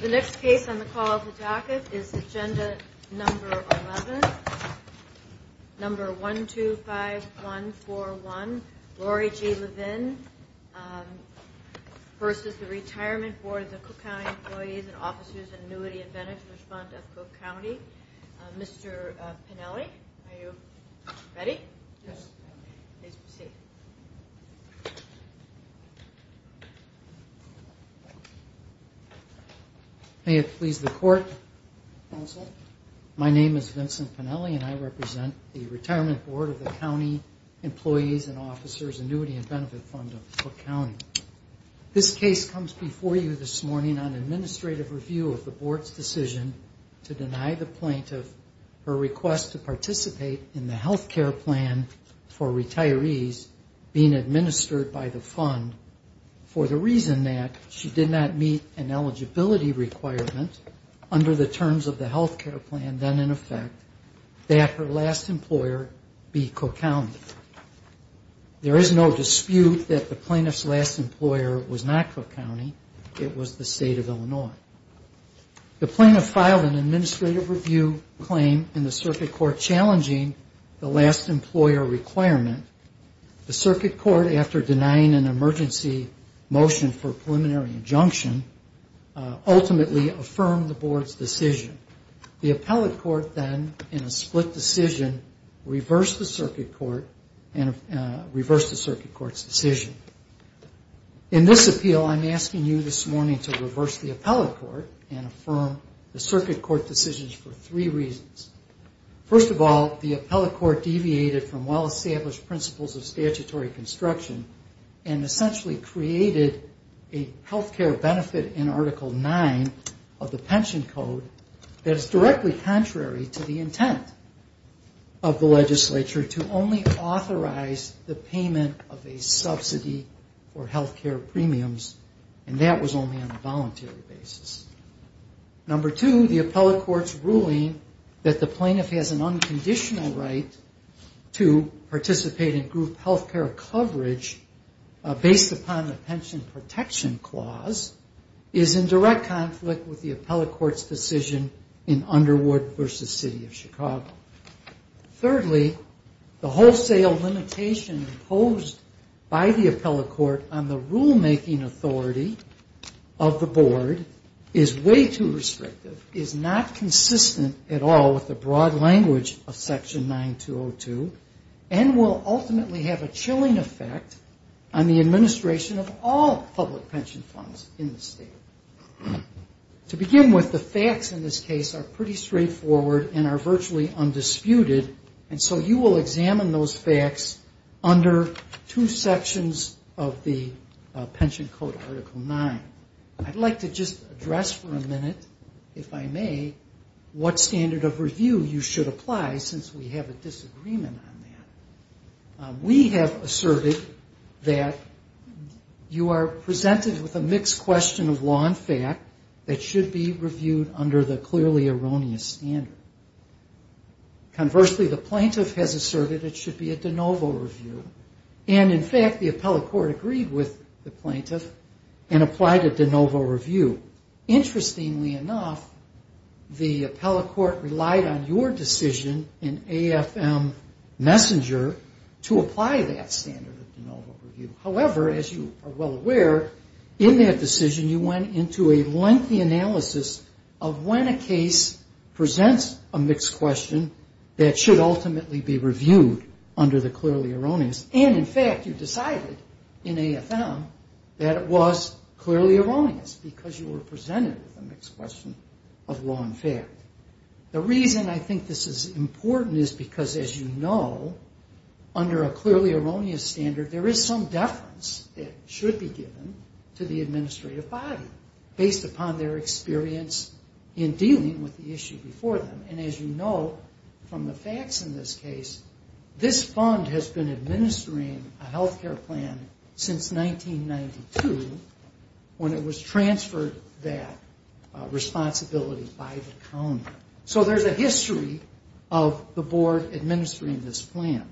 The next case on the call to docket is Agenda 11-125141, Lori G. Levin v. Retirement Board of the Cook County Employees' and Officers' Annuityand Benefit Fund of Cook County. Mr. Pennelly, are you ready? Yes. Please proceed. May it please the Court, Counsel. My name is Vincent Pennelly and I represent the Retirement Board of the County Employees' and Officers' Annuityand Benefit Fund of Cook County. This case comes before you this morning on administrative review of the Board's decision to deny the plaintiff her request to participate in the health care plan for retirees being administered by the fund for the reason that she did not meet an eligibility requirement under the terms of the health care plan then in effect that her last employer be Cook County. There is no dispute that the plaintiff's last employer was not Cook County. It was the State of Illinois. The plaintiff filed an administrative review claim in the Circuit Court challenging the last Board's decision. The Appellate Court then in a split decision reversed the Circuit Court's decision. In this appeal, I'm asking you this morning to reverse the Appellate Court and affirm the Circuit Court decisions for three reasons. First of all, the Appellate Court deviated from well-established principles of statutory construction and essentially created a health care benefit in Article 9 of the Pension Code that is directly contrary to the intent of the legislature to only authorize the payment of a subsidy or health care premiums and that was only on a voluntary basis. Number two, the Appellate Court's ruling that the plaintiff has an unconditional right to participate in group health care coverage based upon the Pension Protection Clause is in direct conflict with the Appellate Court's decision in Underwood v. City of Chicago. Thirdly, the wholesale limitation imposed by the Appellate Court on the rulemaking authority of the Board is way too broad a language of Section 9202 and will ultimately have a chilling effect on the administration of all public pension funds in the state. To begin with, the facts in this case are pretty straightforward and are virtually undisputed and so you will examine those facts under two sections of the Pension Code Article 9. I'd like to just address for a minute, if I may, what standard of review you should apply since we have a disagreement on that. We have asserted that you are presented with a mixed question of law and fact that should be reviewed under the clearly erroneous standard. Conversely, the plaintiff has asserted it should be a de novo review and in fact, the Appellate Court relied on your decision in AFM Messenger to apply that standard of de novo review. However, as you are well aware, in that decision you went into a lengthy analysis of when a case presents a mixed question that should ultimately be reviewed under the clearly erroneous. And in fact, you decided in AFM that it was clearly presented with a mixed question of law and fact. The reason I think this is important is because, as you know, under a clearly erroneous standard, there is some deference that should be given to the administrative body based upon their experience in dealing with the issue before them. And as you know from the facts in this case, this fund has been administering a health care plan since 1992 when it was transferred that way. And the reason I think this is important is because under a clearly erroneous standard, there is some de novo review and in fact, responsibility by the county. So there is a history of the board administering this plan.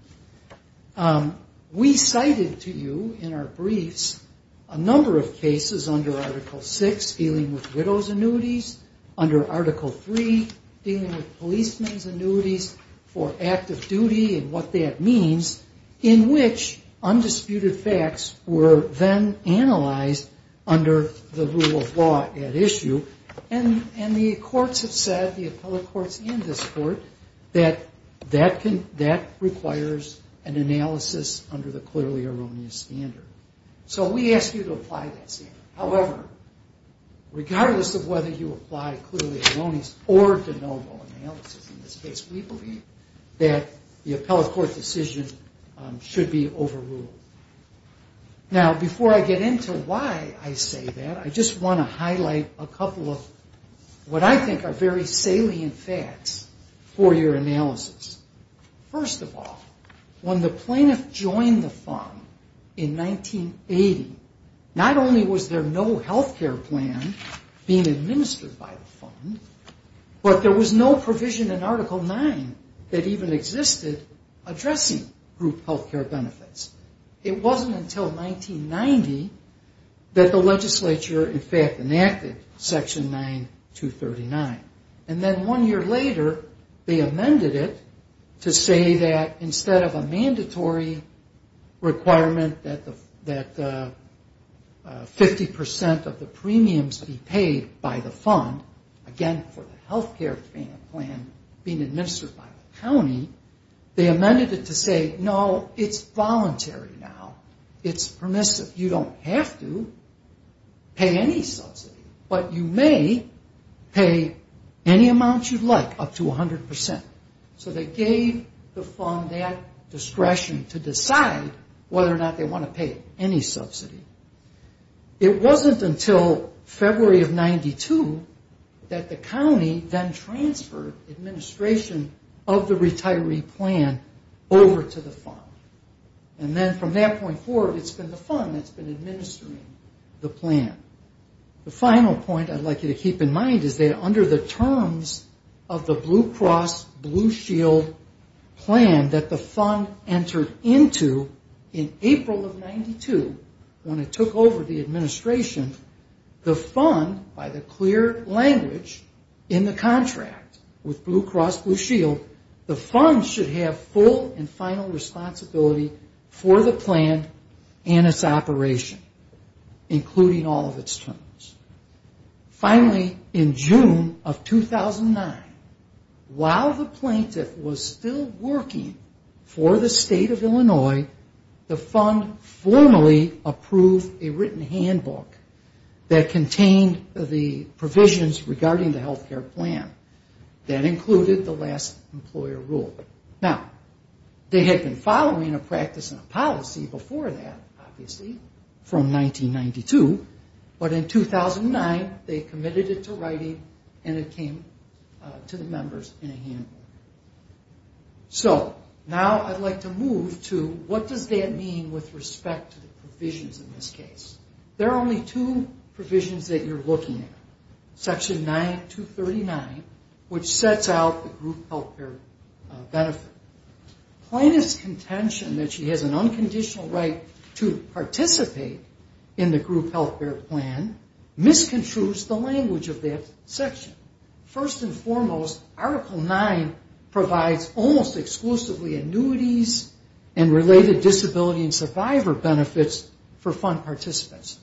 We cited to you in our briefs a number of cases under Article 6 dealing with widow's annuities, under Article 3 dealing with policeman's annuities for active duty and what that means in which undisputed facts were then analyzed under the rule of law at issue. And the courts have said, the appellate courts and this court, that that requires an analysis under the clearly erroneous standard. So we ask you to apply that standard. However, regardless of whether you apply clearly erroneous or de novo analysis in this case, we would be overruled. Now before I get into why I say that, I just want to highlight a couple of what I think are very salient facts for your analysis. First of all, when the plaintiff joined the fund in 1980, not only was there no health care plan being administered by the fund, but there was no provision in Article 9 that even existed addressing group health care benefits. It wasn't until 1990 that the legislature enacted Section 9239. And then one year later they amended it to say that instead of a mandatory requirement that 50% of the premiums be paid by the fund, again for the health care plan being administered by the county, they amended it to say, no, it's voluntary. It's voluntary. It can be now. It's permissive. You don't have to pay any subsidy, but you may pay any amount you'd like, up to 100%. So they gave the fund that discretion to decide whether or not they want to pay any subsidy. It wasn't until February of 92 that the county then approved it. And then from that point forward it's been the fund that's been administering the plan. The final point I'd like you to keep in mind is that under the terms of the Blue Cross Blue Shield plan that the fund entered into in April of 92, when it took over the administration, the fund, by the clear language in the contract with Blue Cross Blue Shield, the fund should have full and final responsibility for the plan and its operation, including all of its terms. Finally, in June of 2009, while the plaintiff was still working for the state of Illinois, the fund formally approved a written handbook that contained the provisions regarding the health care plan. That included the last employer rule. Now, they had been following a practice and a policy before that, obviously, from 1992, but in 2009 they committed it to writing and it came to the members in a handbook. So now I'd like to move to what does that mean with respect to the plan. Article 9, which sets out the group health care benefit. Plaintiff's contention that she has an unconditional right to participate in the group health care plan misconstrues the language of that section. First and foremost, Article 9 provides almost exclusively annuities and related disability and survivor benefits for fund participants.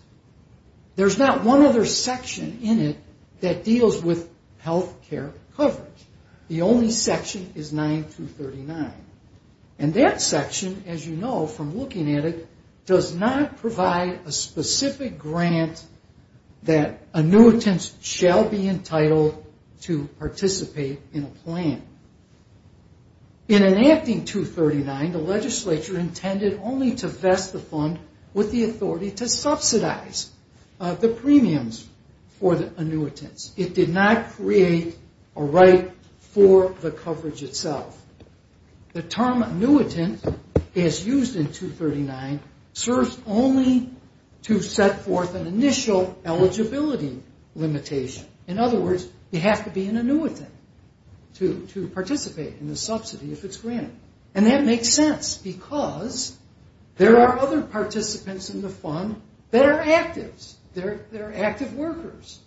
There's not one other section in it that deals with health care benefits. There's no section that deals with health care coverage. The only section is 9239. And that section, as you know from looking at it, does not provide a specific grant that annuitants shall be entitled to participate in a plan. In enacting 239, the legislature intended only to vest the fund with the grant to create a right for the coverage itself. The term annuitant, as used in 239, serves only to set forth an initial eligibility limitation. In other words, you have to be an annuitant to participate in the subsidy if it's granted. And that makes sense, because there are other participants in the fund that are active. They're active workers.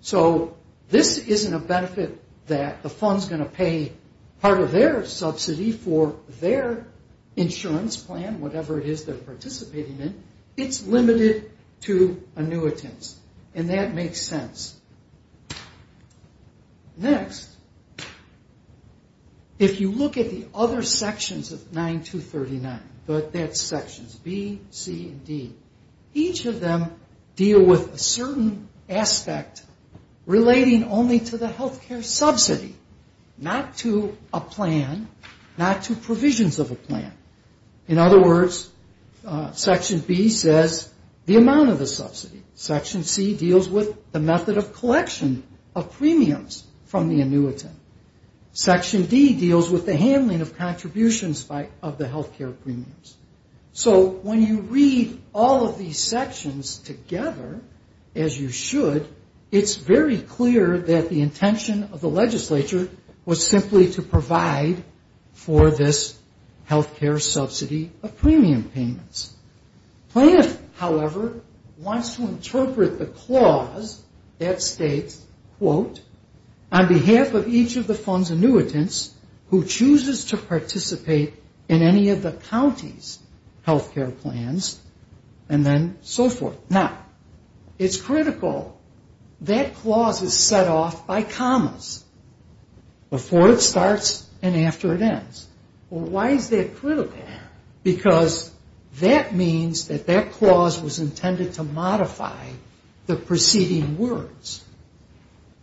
So this isn't a benefit to them. It's a benefit to the fund. The fund is going to pay part of their subsidy for their insurance plan, whatever it is they're participating in. It's limited to annuitants. And that makes sense. Next, if you look at the other sections of 9239, B, C, and D, each of them deal with a certain aspect relating only to the health care subsidy, not to a plan, not to provisions of a plan. In other words, section B says the amount of the subsidy. Section C deals with the method of collection of premiums from the annuitant. Section D deals with the handling of contributions of the health care premiums. So when you read all of these sections together, as you should, it's very clear that the intention of the annuitant is to provide a grant to the annuitant. And the intention of the legislature was simply to provide for this health care subsidy of premium payments. Plaintiff, however, wants to interpret the clause that states, quote, on behalf of each of the fund's annuitants who chooses to participate in any of the county's health care plans, and then so forth. Now, it's critical. That clause is set off by commas. Before it starts and after it ends. Well, why is that critical? Because that means that that clause was intended to modify the preceding words.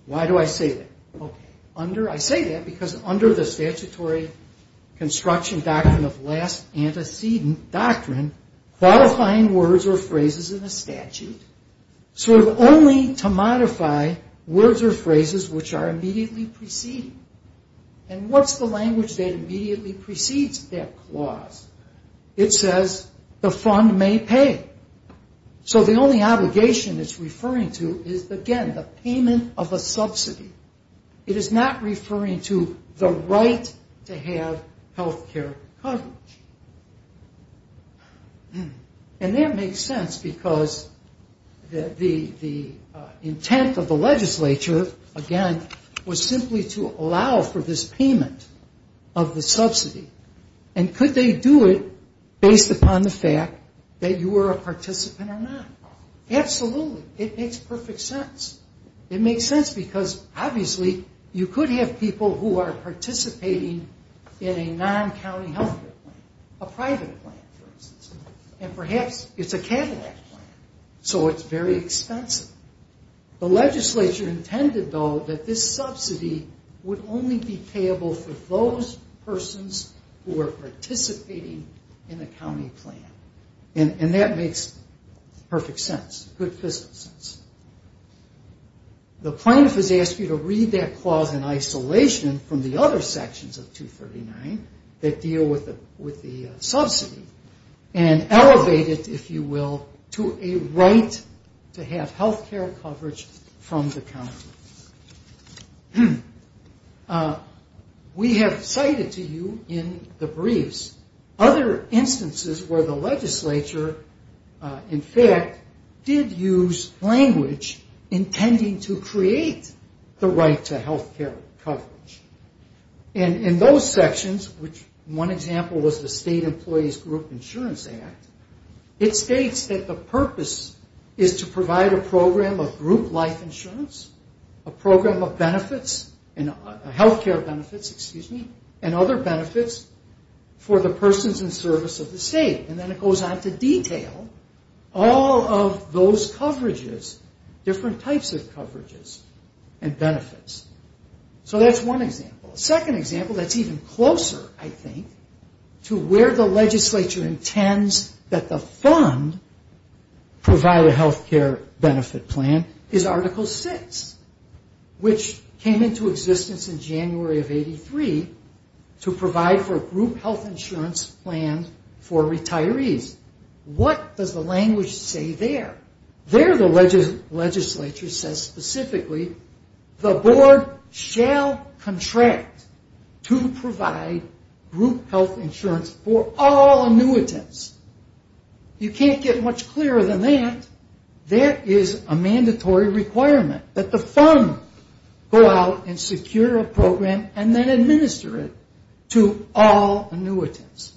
Why do I say that? Okay. I say that because under the statutory construction doctrine of last antecedent doctrine, qualifying words or phrases in a statute, sort of only to modify words or phrases which are immediately preceding. And what's the language that immediately precedes that clause? It says, the fund may pay. So the only obligation it's referring to is, again, the payment of a subsidy. It is not referring to the right to have health care coverage. And that makes sense because the intent of the legislature, again, was to provide a grant to the annuitant. And the annuitant was simply to allow for this payment of the subsidy. And could they do it based upon the fact that you were a participant or not? Absolutely. It makes perfect sense. It makes sense because obviously you could have people who are participating in a non-county health care plan. A private plan, for instance. And perhaps it's a Cadillac plan. So it's very expensive. The legislature intended, though, that this subsidy would only be payable for those persons who are participating in a county plan. And that makes perfect sense. Good business sense. The plaintiff has asked you to read that clause in isolation from the other sections of 239 that deal with the subsidy and elevate it, if you will, to a right to have health care coverage from the county. We have cited to you in the briefs other instances where the legislature, in fact, did use language intending to create the right to health care coverage. And in those sections, which one example was the State Employees Group Insurance Act, it states that the purpose is to provide a program of group life insurance, a program of health care benefits, and other benefits for the persons in service of the state. And then it goes on to detail all of those coverages, different types of coverages and benefits. So that's one example. A second example that's even closer, I think, to where the legislature intends that the fund provide a health care benefit plan is Article 6, which came into existence in January of 83 to provide for a group health insurance plan for retirees. What does the language say there? There the legislature says specifically, the board shall contract to provide a health care benefit plan to provide group health insurance for all annuitants. You can't get much clearer than that. There is a mandatory requirement that the fund go out and secure a program and then administer it to all annuitants.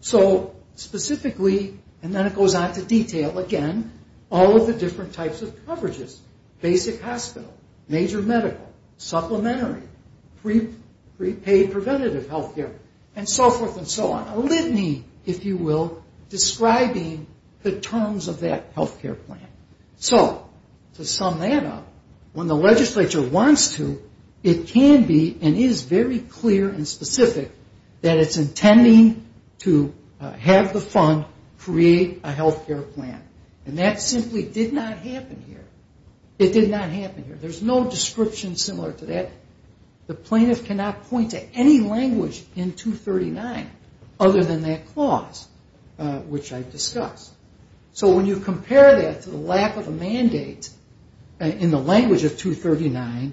So specifically, and then it goes on to detail again, all of the different types of coverages. Basic hospital, major medical, supplementary, prepaid preventative health care, and so forth and so on. A litany, if you will, describing the terms of that health care plan. So to sum that up, when the legislature wants to, it can be and is very clear and specific that it's intending to have the fund create a health care plan. And that simply did not happen here. It did not happen here. There's no description similar to that. The plaintiff cannot point to any language in 239 other than that clause, which I've discussed. So when you compare that to the lack of a mandate in the language of 239,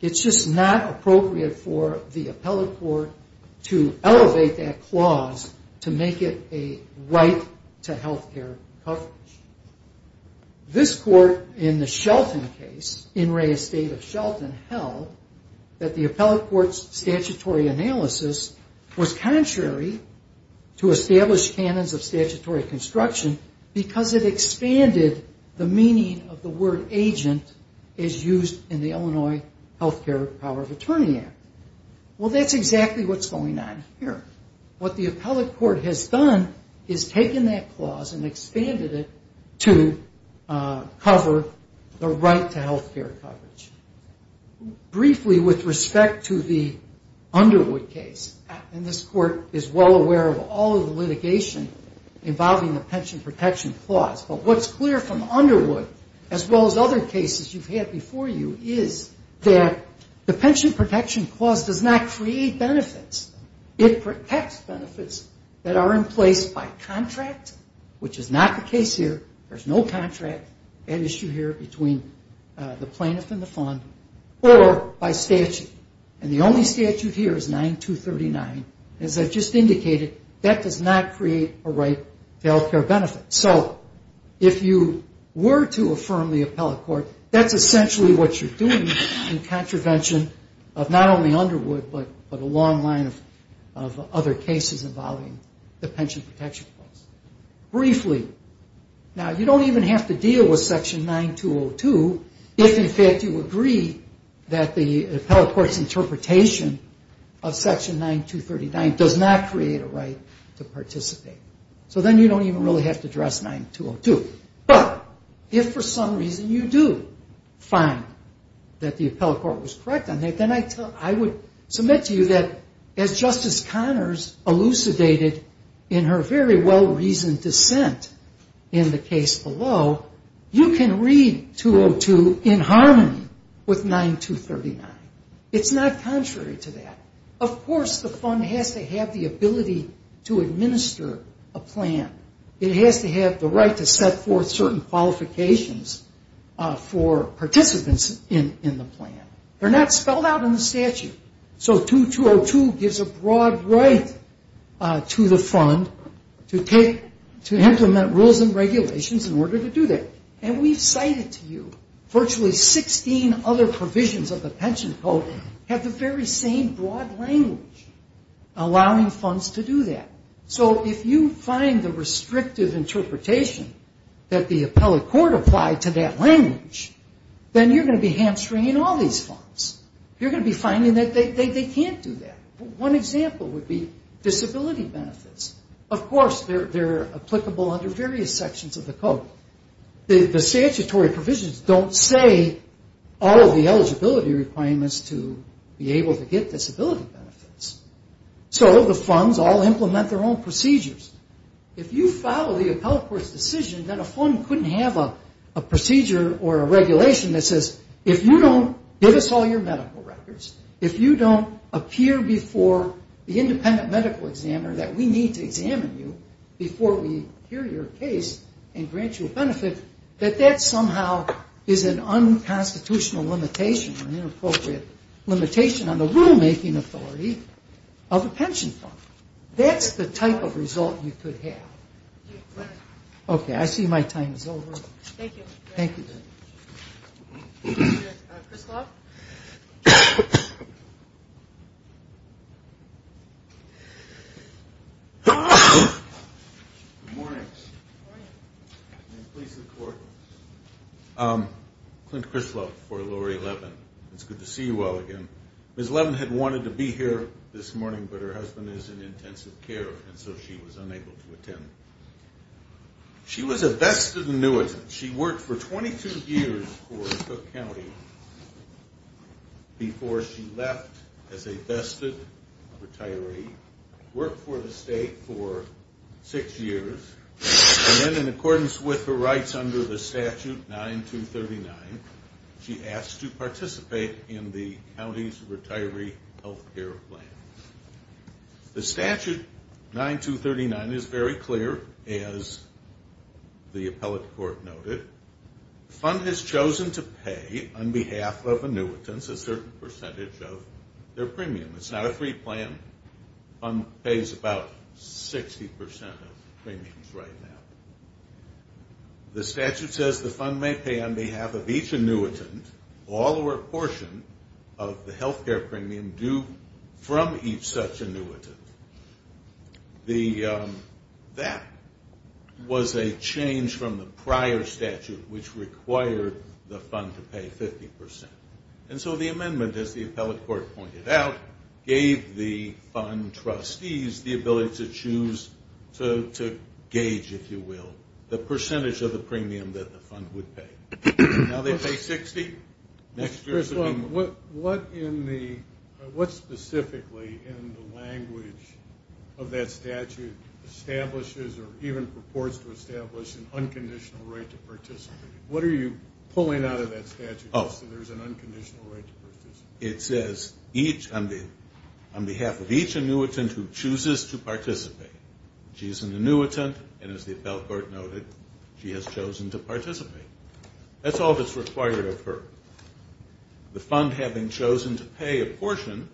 it's just not appropriate for the appellate court to elevate that clause to make it a right to health care coverage. This court in the Shelton case, In re estate of Shelton, held that the appellate court's statutory analysis was contrary to established canons of statutory construction because it expanded the meaning of the word agent as used in the Illinois Health Care Power of Attorney Act. Well, that's exactly what's going on here. What the appellate court has done is taken that clause and expanded it to cover the right to health care coverage. Briefly with respect to the Underwood case, and this court is well aware of all of the litigation involving the pension protection clause, but what's clear from Underwood as well as other cases you've had before you is that the pension protection clause does not create benefits. It protects benefits that are in place by contract, which is not the case here. There's no contract at issue here between the plaintiff and the fund, or by statute. And the only statute here is 9239. As I've just indicated, that does not create a right to health care benefits. So if you were to affirm the appellate court, that's essentially what you're doing in contravention of not only Underwood, but a long line of other cases involving the pension protection clause. Briefly, now you don't even have to deal with section 9202 if, in fact, you agree that the appellate court's interpretation of section 9239 does not create a right to participate. So then you don't even really have to address 9202. But if for some reason the appellate court was correct on that, then I would submit to you that as Justice Connors elucidated in her very well-reasoned dissent in the case below, you can read 202 in harmony with 9239. It's not contrary to that. Of course, the fund has to have the ability to administer a plan. It has to have the right to set forth certain qualifications for participants in the plan. They're not spelled out in the statute. So 2202 gives a broad right to the fund to implement rules and regulations in order to do that. And we've cited to you virtually 16 other provisions of the pension code have the very same broad language allowing funds to do that. So if you find the restrictive interpretation that the appellate court applied to that language, then you're going to be hamstringing all these funds. You're going to be finding that they can't do that. One example would be disability benefits. Of course, they're applicable under various sections of the code. The statutory provisions don't say all of the eligibility requirements to be able to get disability benefits. So the funds all implement their own procedures. If you follow the appellate court's decision that a fund couldn't have a procedure or a regulation that says if you don't give us all your medical records, if you don't appear before the independent medical examiner that we need to examine you before we hear your case and grant you a benefit, that that somehow is an unconstitutional limitation or inappropriate limitation on the rulemaking authority of a pension fund. That's the type of result you could have. Okay, I see my time is over. Clint Crisloff for Lowery Levin. It's good to see you all again. Ms. Levin had wanted to be here this morning, but her retirement was delayed. She was a vested annuitant. She worked for 22 years for Cook County before she left as a vested retiree. Worked for the state for six years, and then in accordance with her rights under the statute 9239, she asked to participate in the county's retiree health care plan. The statute 9239 is very clear, as is the health care plan. The appellate court noted the fund has chosen to pay on behalf of annuitants a certain percentage of their premium. It's not a free plan. The fund pays about 60 percent of premiums right now. The statute says the fund may pay on behalf of each annuitant all or a portion of the health care premium due from each such annuitant. That was a change from the prior statute which required the fund to pay 50 percent. And so the amendment, as the appellate court pointed out, gave the fund trustees the ability to choose to gauge, if you will, the percentage of the premium that the fund would pay. Now they pay 60. Next question. What specifically in the language of that statute establishes or even purports to establish an unconditional right to participate? What are you pulling out of that statute so there's an unconditional right to participate? It says on behalf of each annuitant who chooses to participate. She's an annuitant, and as the appellate court noted, she has the right to participate. The fund having chosen to pay a portion,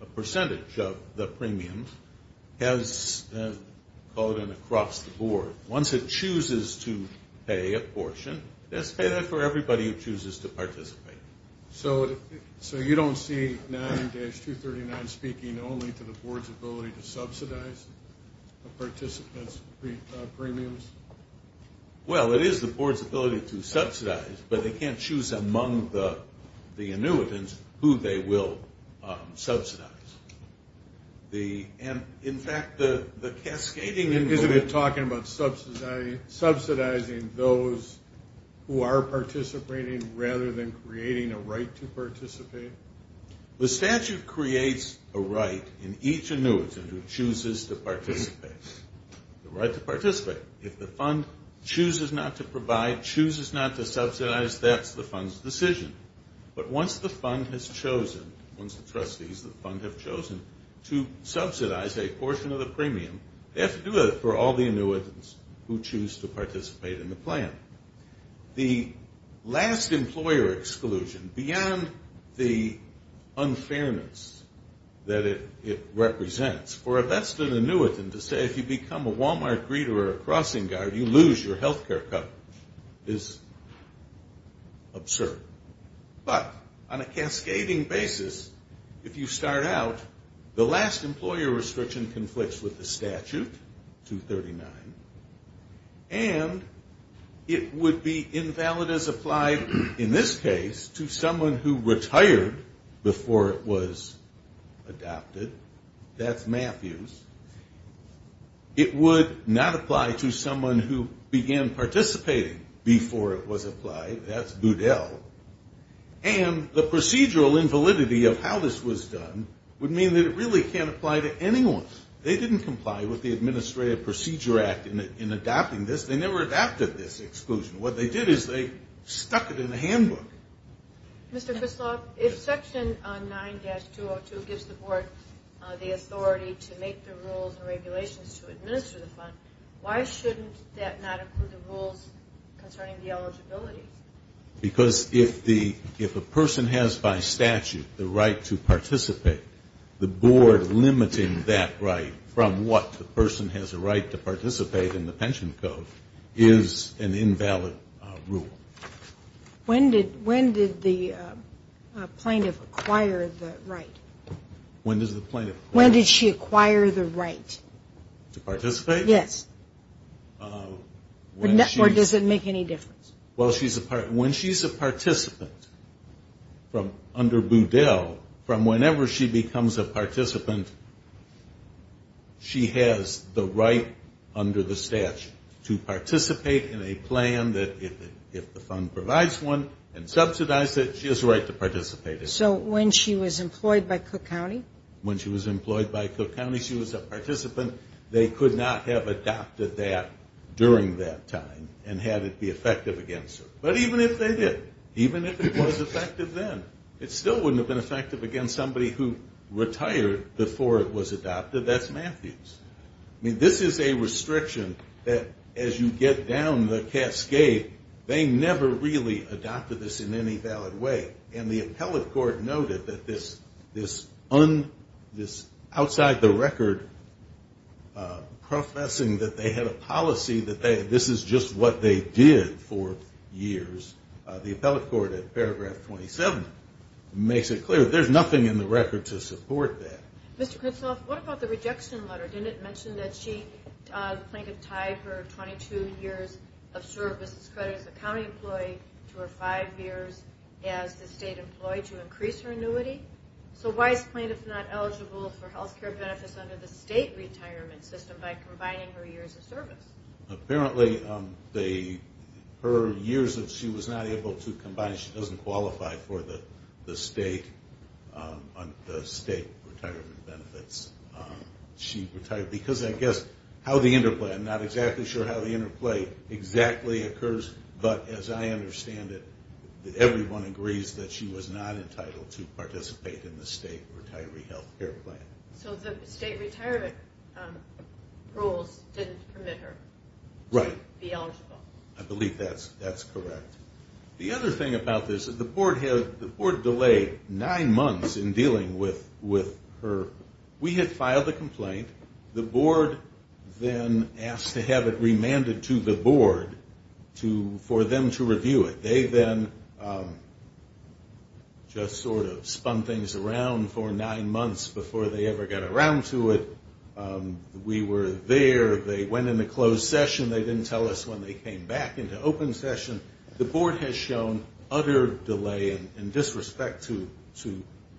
a percentage of the premiums, has called an across the board. Once it chooses to pay a portion, let's pay that for everybody who chooses to participate. So you don't see 9-239 speaking only to the board's ability to subsidize the participants' premiums? Well, it is the board's ability to subsidize, but they can't choose among the annuitants who they will subsidize. And in fact, the cascading... Isn't it talking about subsidizing those who are participating rather than creating a right to participate? The statute creates a right in each annuitant who chooses to participate. The right to participate. If the fund chooses not to provide, chooses not to subsidize, that's the fund's decision. But once the fund has chosen, once the trustees of the fund have chosen to subsidize a portion of the premium, they have to do it for all the annuitants who choose to participate in the plan. The last employer exclusion, beyond the unfairness that it represents, for if that's the annuitant to say, if you become a Walmart greeter or a crossing guard, you lose your health care cut, is absurd. But on a cascading basis, if you start out, the last employer restriction conflicts with the statute, 239, and it would be invalid as applied in this case to someone who retired before it was adopted. That's Matthews. It would not apply to someone who began participating before it was applied. That's Goodell. And the procedural invalidity of how this was done would mean that it really can't apply to anyone. They didn't comply with the Administrative Procedure Act in adopting this. They never adopted this exclusion. What they did is they stuck it in the handbook. Mr. Krzysztof, if Section 9-202 gives the Board the authority to make the rules and regulations to administer the fund, why shouldn't that not include the rules concerning the eligibility? Because if a person has, by statute, the right to participate, the Board limiting that right from what the person has the right to participate in the pension code is an invalid rule. When did the plaintiff acquire the right? When did she acquire the right? To participate? Yes. Or does it make any difference? Well, when she's a participant under Goodell, from whenever she becomes a participant, she has the right under the fund provides one and subsidize it, she has the right to participate in it. So when she was employed by Cook County? When she was employed by Cook County, she was a participant. They could not have adopted that during that time and had it be effective against her. But even if they did, even if it was effective then, it still wouldn't have been effective against somebody who retired before it was adopted. That's Matthews. I mean, this is a restriction that as you get down the road, you never really adopted this in any valid way. And the appellate court noted that this outside the record professing that they had a policy that this is just what they did for years. The appellate court at paragraph 27 makes it clear that there's nothing in the record to support that. Mr. Critchoff, what about the rejection letter? Didn't it mention that the plaintiff tied her 22 years of service credit as a county employee to her five years as the state employee to increase her annuity? So why is the plaintiff not eligible for health care benefits under the state retirement system by combining her years of service? Apparently, her years that she was not able to combine, she doesn't qualify for the state retirement system. I'm not exactly sure how the interplay exactly occurs, but as I understand it, everyone agrees that she was not entitled to participate in the state retiree health care plan. So the state retirement rules didn't permit her to be eligible. I believe that's correct. The other thing about this is the court delayed nine months in dealing with her We had filed a complaint. The board then asked to have it remanded to the board for them to review it. They then just sort of spun things around for nine months before they ever got around to it. We were there. They went into closed session. They didn't tell us when they came back into open session. The board has shown utter delay and disrespect to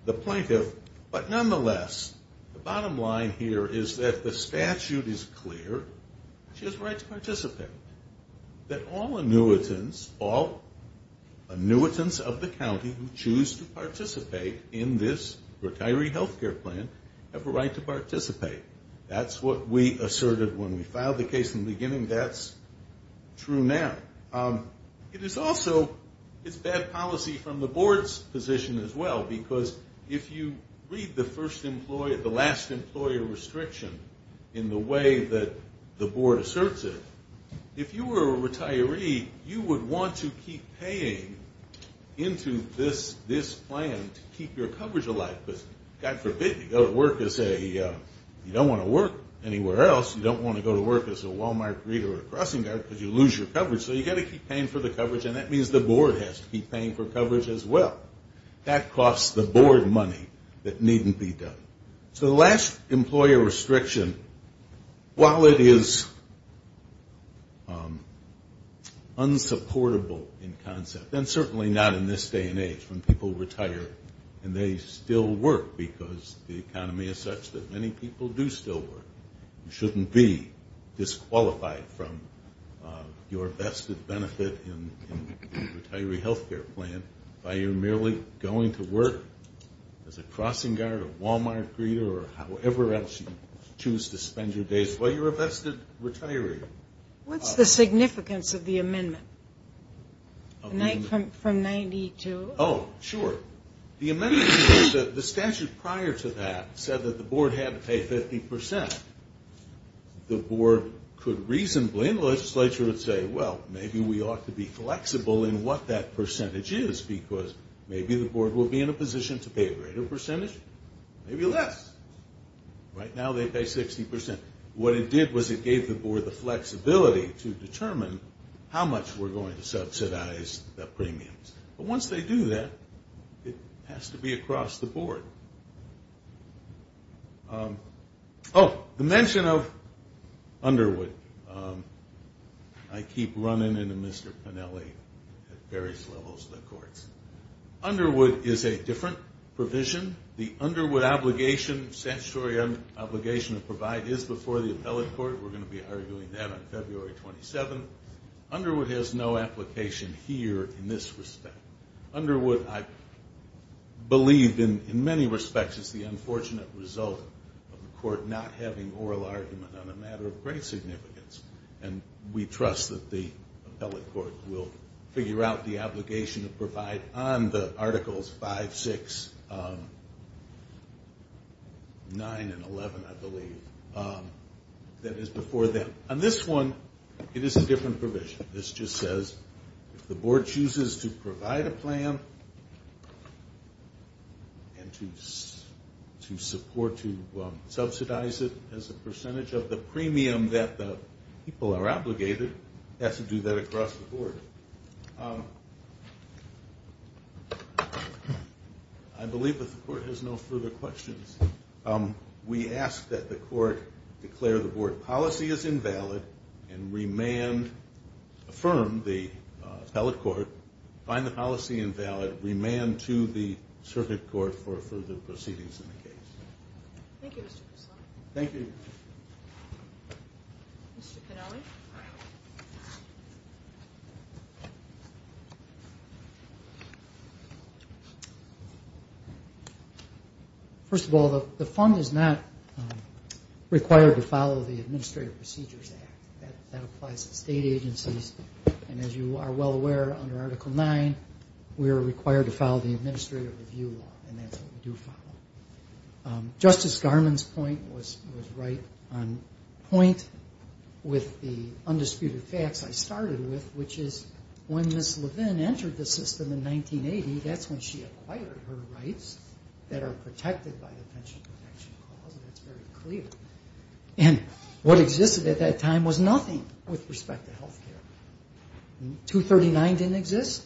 the plaintiff. But nonetheless, the bottom line here is that the statute is clear. She has a right to participate. That all annuitants of the county who choose to participate in this retiree health care plan have a right to participate. That's what we asserted when we filed the case in the beginning. That's true now. It's bad policy from the board's position as well. Because if you read the last employer restriction in the way that the board asserts it, if you were a retiree, you would want to keep paying into this plan to keep your coverage alive. Because, God forbid, you don't want to work anywhere else. You don't want to go to work as a Wal-Mart reader or a crossing guard because you lose your coverage. So you've got to keep paying for the coverage, and that means the board has to keep paying for coverage as well. That costs the board money that needn't be done. So the last employer restriction, while it is unsupportable in concept, and certainly not in this day and age when people retire and they still work because the economy is such that many people do still work. You shouldn't be disqualified from your vested benefit in the retiree health care plan by your merely going to work as a crossing guard or Wal-Mart reader or however else you choose to spend your days while you're a vested retiree. What's the significance of the amendment from 92? Oh, sure. The amendment is that the statute prior to that said that the board had to pay 50%. The board could reasonably, and the legislature would say, well, maybe we ought to be flexible in what that percentage is, because maybe the board will be in a position to pay a greater percentage, maybe less. Right now they pay 60%. What it did was it gave the board the flexibility to determine how much we're going to subsidize the premiums. But once they do that, it has to be across the board. Oh, the mention of Underwood. I keep running into Mr. Pennelly at various levels of the courts. Underwood is a different provision. The Underwood obligation, statutory obligation to provide, is before the appellate court. We're going to be arguing that on February 27. Underwood has no application here in this respect. Underwood, I believe, in many respects is the unfortunate result of the court not having oral argument on a matter of great significance. And we trust that the appellate court will figure out the obligation to provide on the Articles 5, 6, 9, and 11, I believe, that is before them. On this one, it is a different provision. This just says if the board chooses to provide a plan and to support, to subsidize it as a percentage of the premium that the people are obligated, it has to do that across the board. I believe that the court has no further questions. We ask that the court declare the board policy as invalid and remand, affirm the appellate court, find the policy invalid, remand to the circuit court for further proceedings in the case. Thank you. First of all, the fund is not required to follow the Administrative Procedures Act. That applies to state agencies. And as you are well aware, under Article 9, we are required to follow the Administrative Review Law, and that's what we do follow. Justice Garmon's point was right on point with the undisputed facts I started with, which is when Ms. Levin entered the system in 1980, that's when she acquired her rights that are protected by the Pension Protection Clause. And that's very clear. 239 didn't exist,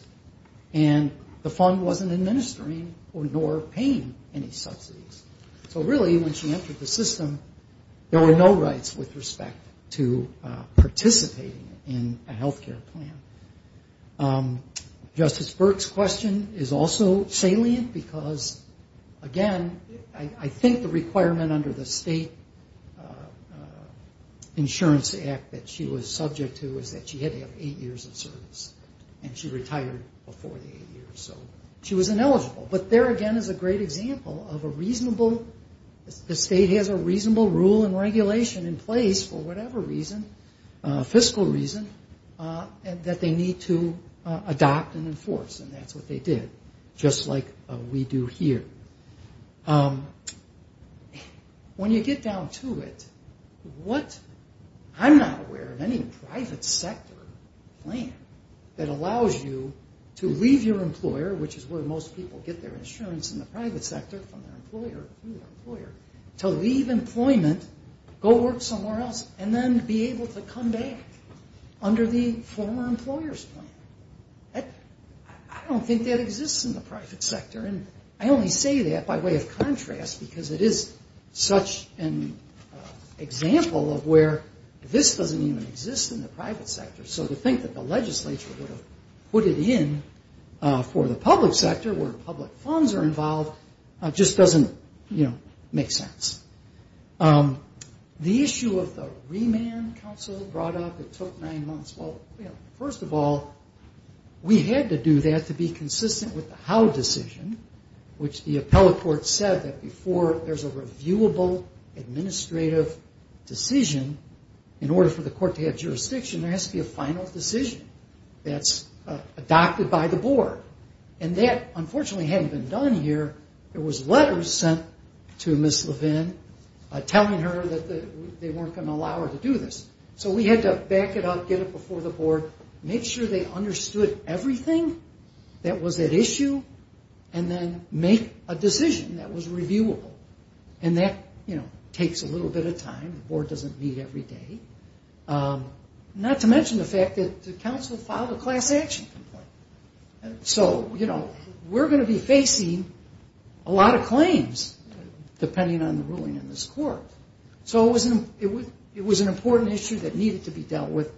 and the fund wasn't administering or nor paying any subsidies. So really, when she entered the system, there were no rights with respect to participating in a health care plan. Justice Burke's question is also salient, because, again, I think the requirement under the State Insurance Act that she was subject to is that she had to have health insurance. And she retired before the eight years, so she was ineligible. But there, again, is a great example of a reasonable, the state has a reasonable rule and regulation in place, for whatever reason, fiscal reason, that they need to adopt and enforce. And that's what they did, just like we do here. When you get down to it, what I'm not aware of, any private sector, that is subject to health insurance. That allows you to leave your employer, which is where most people get their insurance in the private sector from their employer, to leave employment, go work somewhere else, and then be able to come back under the former employer's plan. I don't think that exists in the private sector, and I only say that by way of contrast, because it is such an example of where this doesn't even exist in the private sector. So to think that the legislature would have put it in for the public sector, where public funds are involved, just doesn't, you know, make sense. The issue of the remand counsel brought up, it took nine months. Well, you know, first of all, we had to do that to be consistent with the how decision, which the appellate court said that before there's a reviewable administrative decision, in order for the court to have jurisdiction, there has to be a final decision. That's adopted by the board, and that, unfortunately, hadn't been done here. There was letters sent to Ms. Levin telling her that they weren't going to allow her to do this. So we had to back it up, get it before the board, make sure they understood everything that was at issue, and then make a decision that was reviewable. And that, you know, takes a little bit of time, the board doesn't meet every day. Not to mention the fact that the counsel filed a class action complaint. So, you know, we're going to be facing a lot of claims, depending on the ruling in this court. So it was an important issue that needed to be dealt with,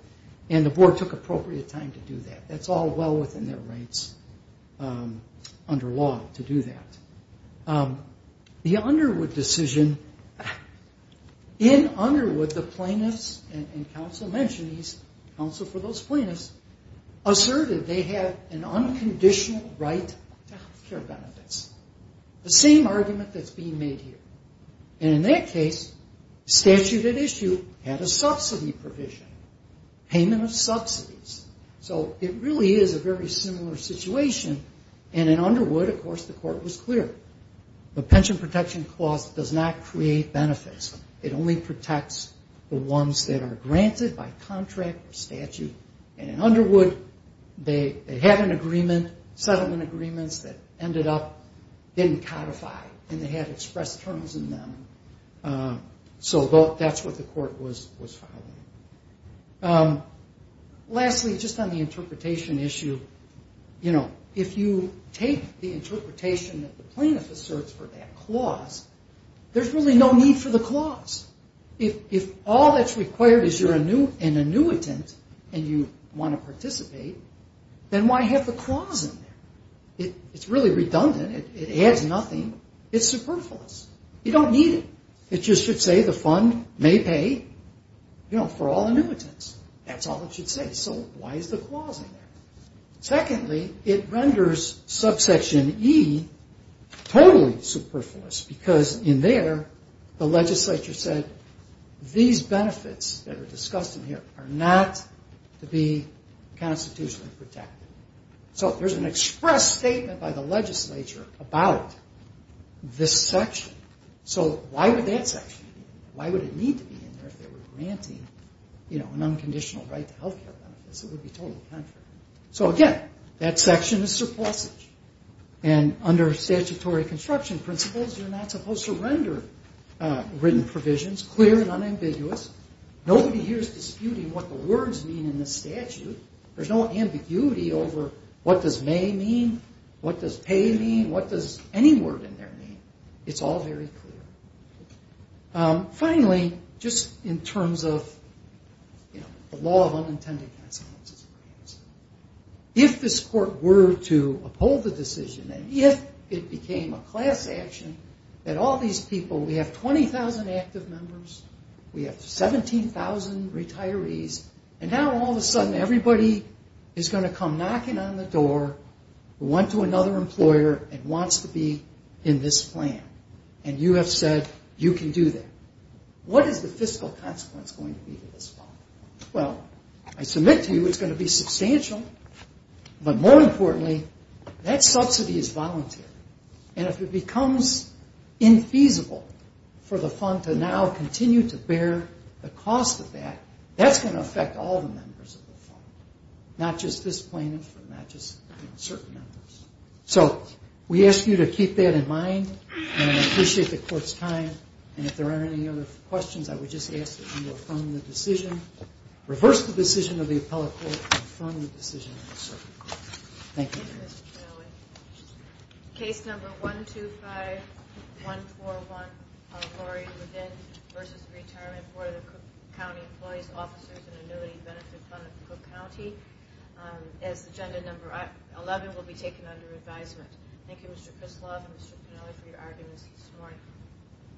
and the board took appropriate time to do that. That's all well within their rights under law to do that. The Underwood decision, in Underwood, the plaintiffs, and counsel mentioned these, counsel for those plaintiffs, asserted they had an unconditional right to health care benefits. The same argument that's being made here. And in that case, statute at issue had a subsidy provision, payment of subsidies. So it really is a very similar situation, and in Underwood, of course, the court was clear. The pension protection clause does not create benefits. It only protects the ones that are granted by contract or statute. And in Underwood, they had an agreement, settlement agreements that ended up getting codified, and they had express terms in them. So that's what the court was following. Lastly, just on the interpretation issue. There's really no need for the clause. If all that's required is you're an annuitant, and you want to participate, then why have the clause in there? It's really redundant. It adds nothing. It's superfluous. You don't need it. It just should say the fund may pay for all annuitants. That's all it should say. So why is the clause in there? Secondly, it renders subsection E totally superfluous, because in there, the legislature said, these benefits that are discussed in here are not to be constitutionally protected. So there's an express statement by the legislature about this section. So why would that section be in there? Why would it need to be in there if they were granting an unconditional right to health care benefits? So again, that section is surplusage, and under statutory construction principles, you're not supposed to render written provisions clear and unambiguous. Nobody here is disputing what the words mean in the statute. There's no ambiguity over what does may mean, what does pay mean, what does any word in there mean. It's all very clear. Finally, just in terms of the law of unintended consequences. If this court were to uphold the decision, and if it became a class action, that all these people, we have 20,000 active members, we have 17,000 retirees, and now all of a sudden everybody is going to come knocking on the door, who went to another employer and wants to be in this plan, and you have said you can do that. What is the fiscal consequence going to be to this fund? Well, I submit to you it's going to be substantial, but more importantly, that subsidy is voluntary. And if it becomes infeasible for the fund to now continue to bear the cost of that, that's going to affect all the members of the fund, not just this plaintiff, not just certain members. So we ask you to keep that in mind, and appreciate the court's time, and if there aren't any other questions, I would just ask that you affirm the decision, reverse the decision of the appellate court, and affirm the decision of the circuit court. Thank you. Thank you.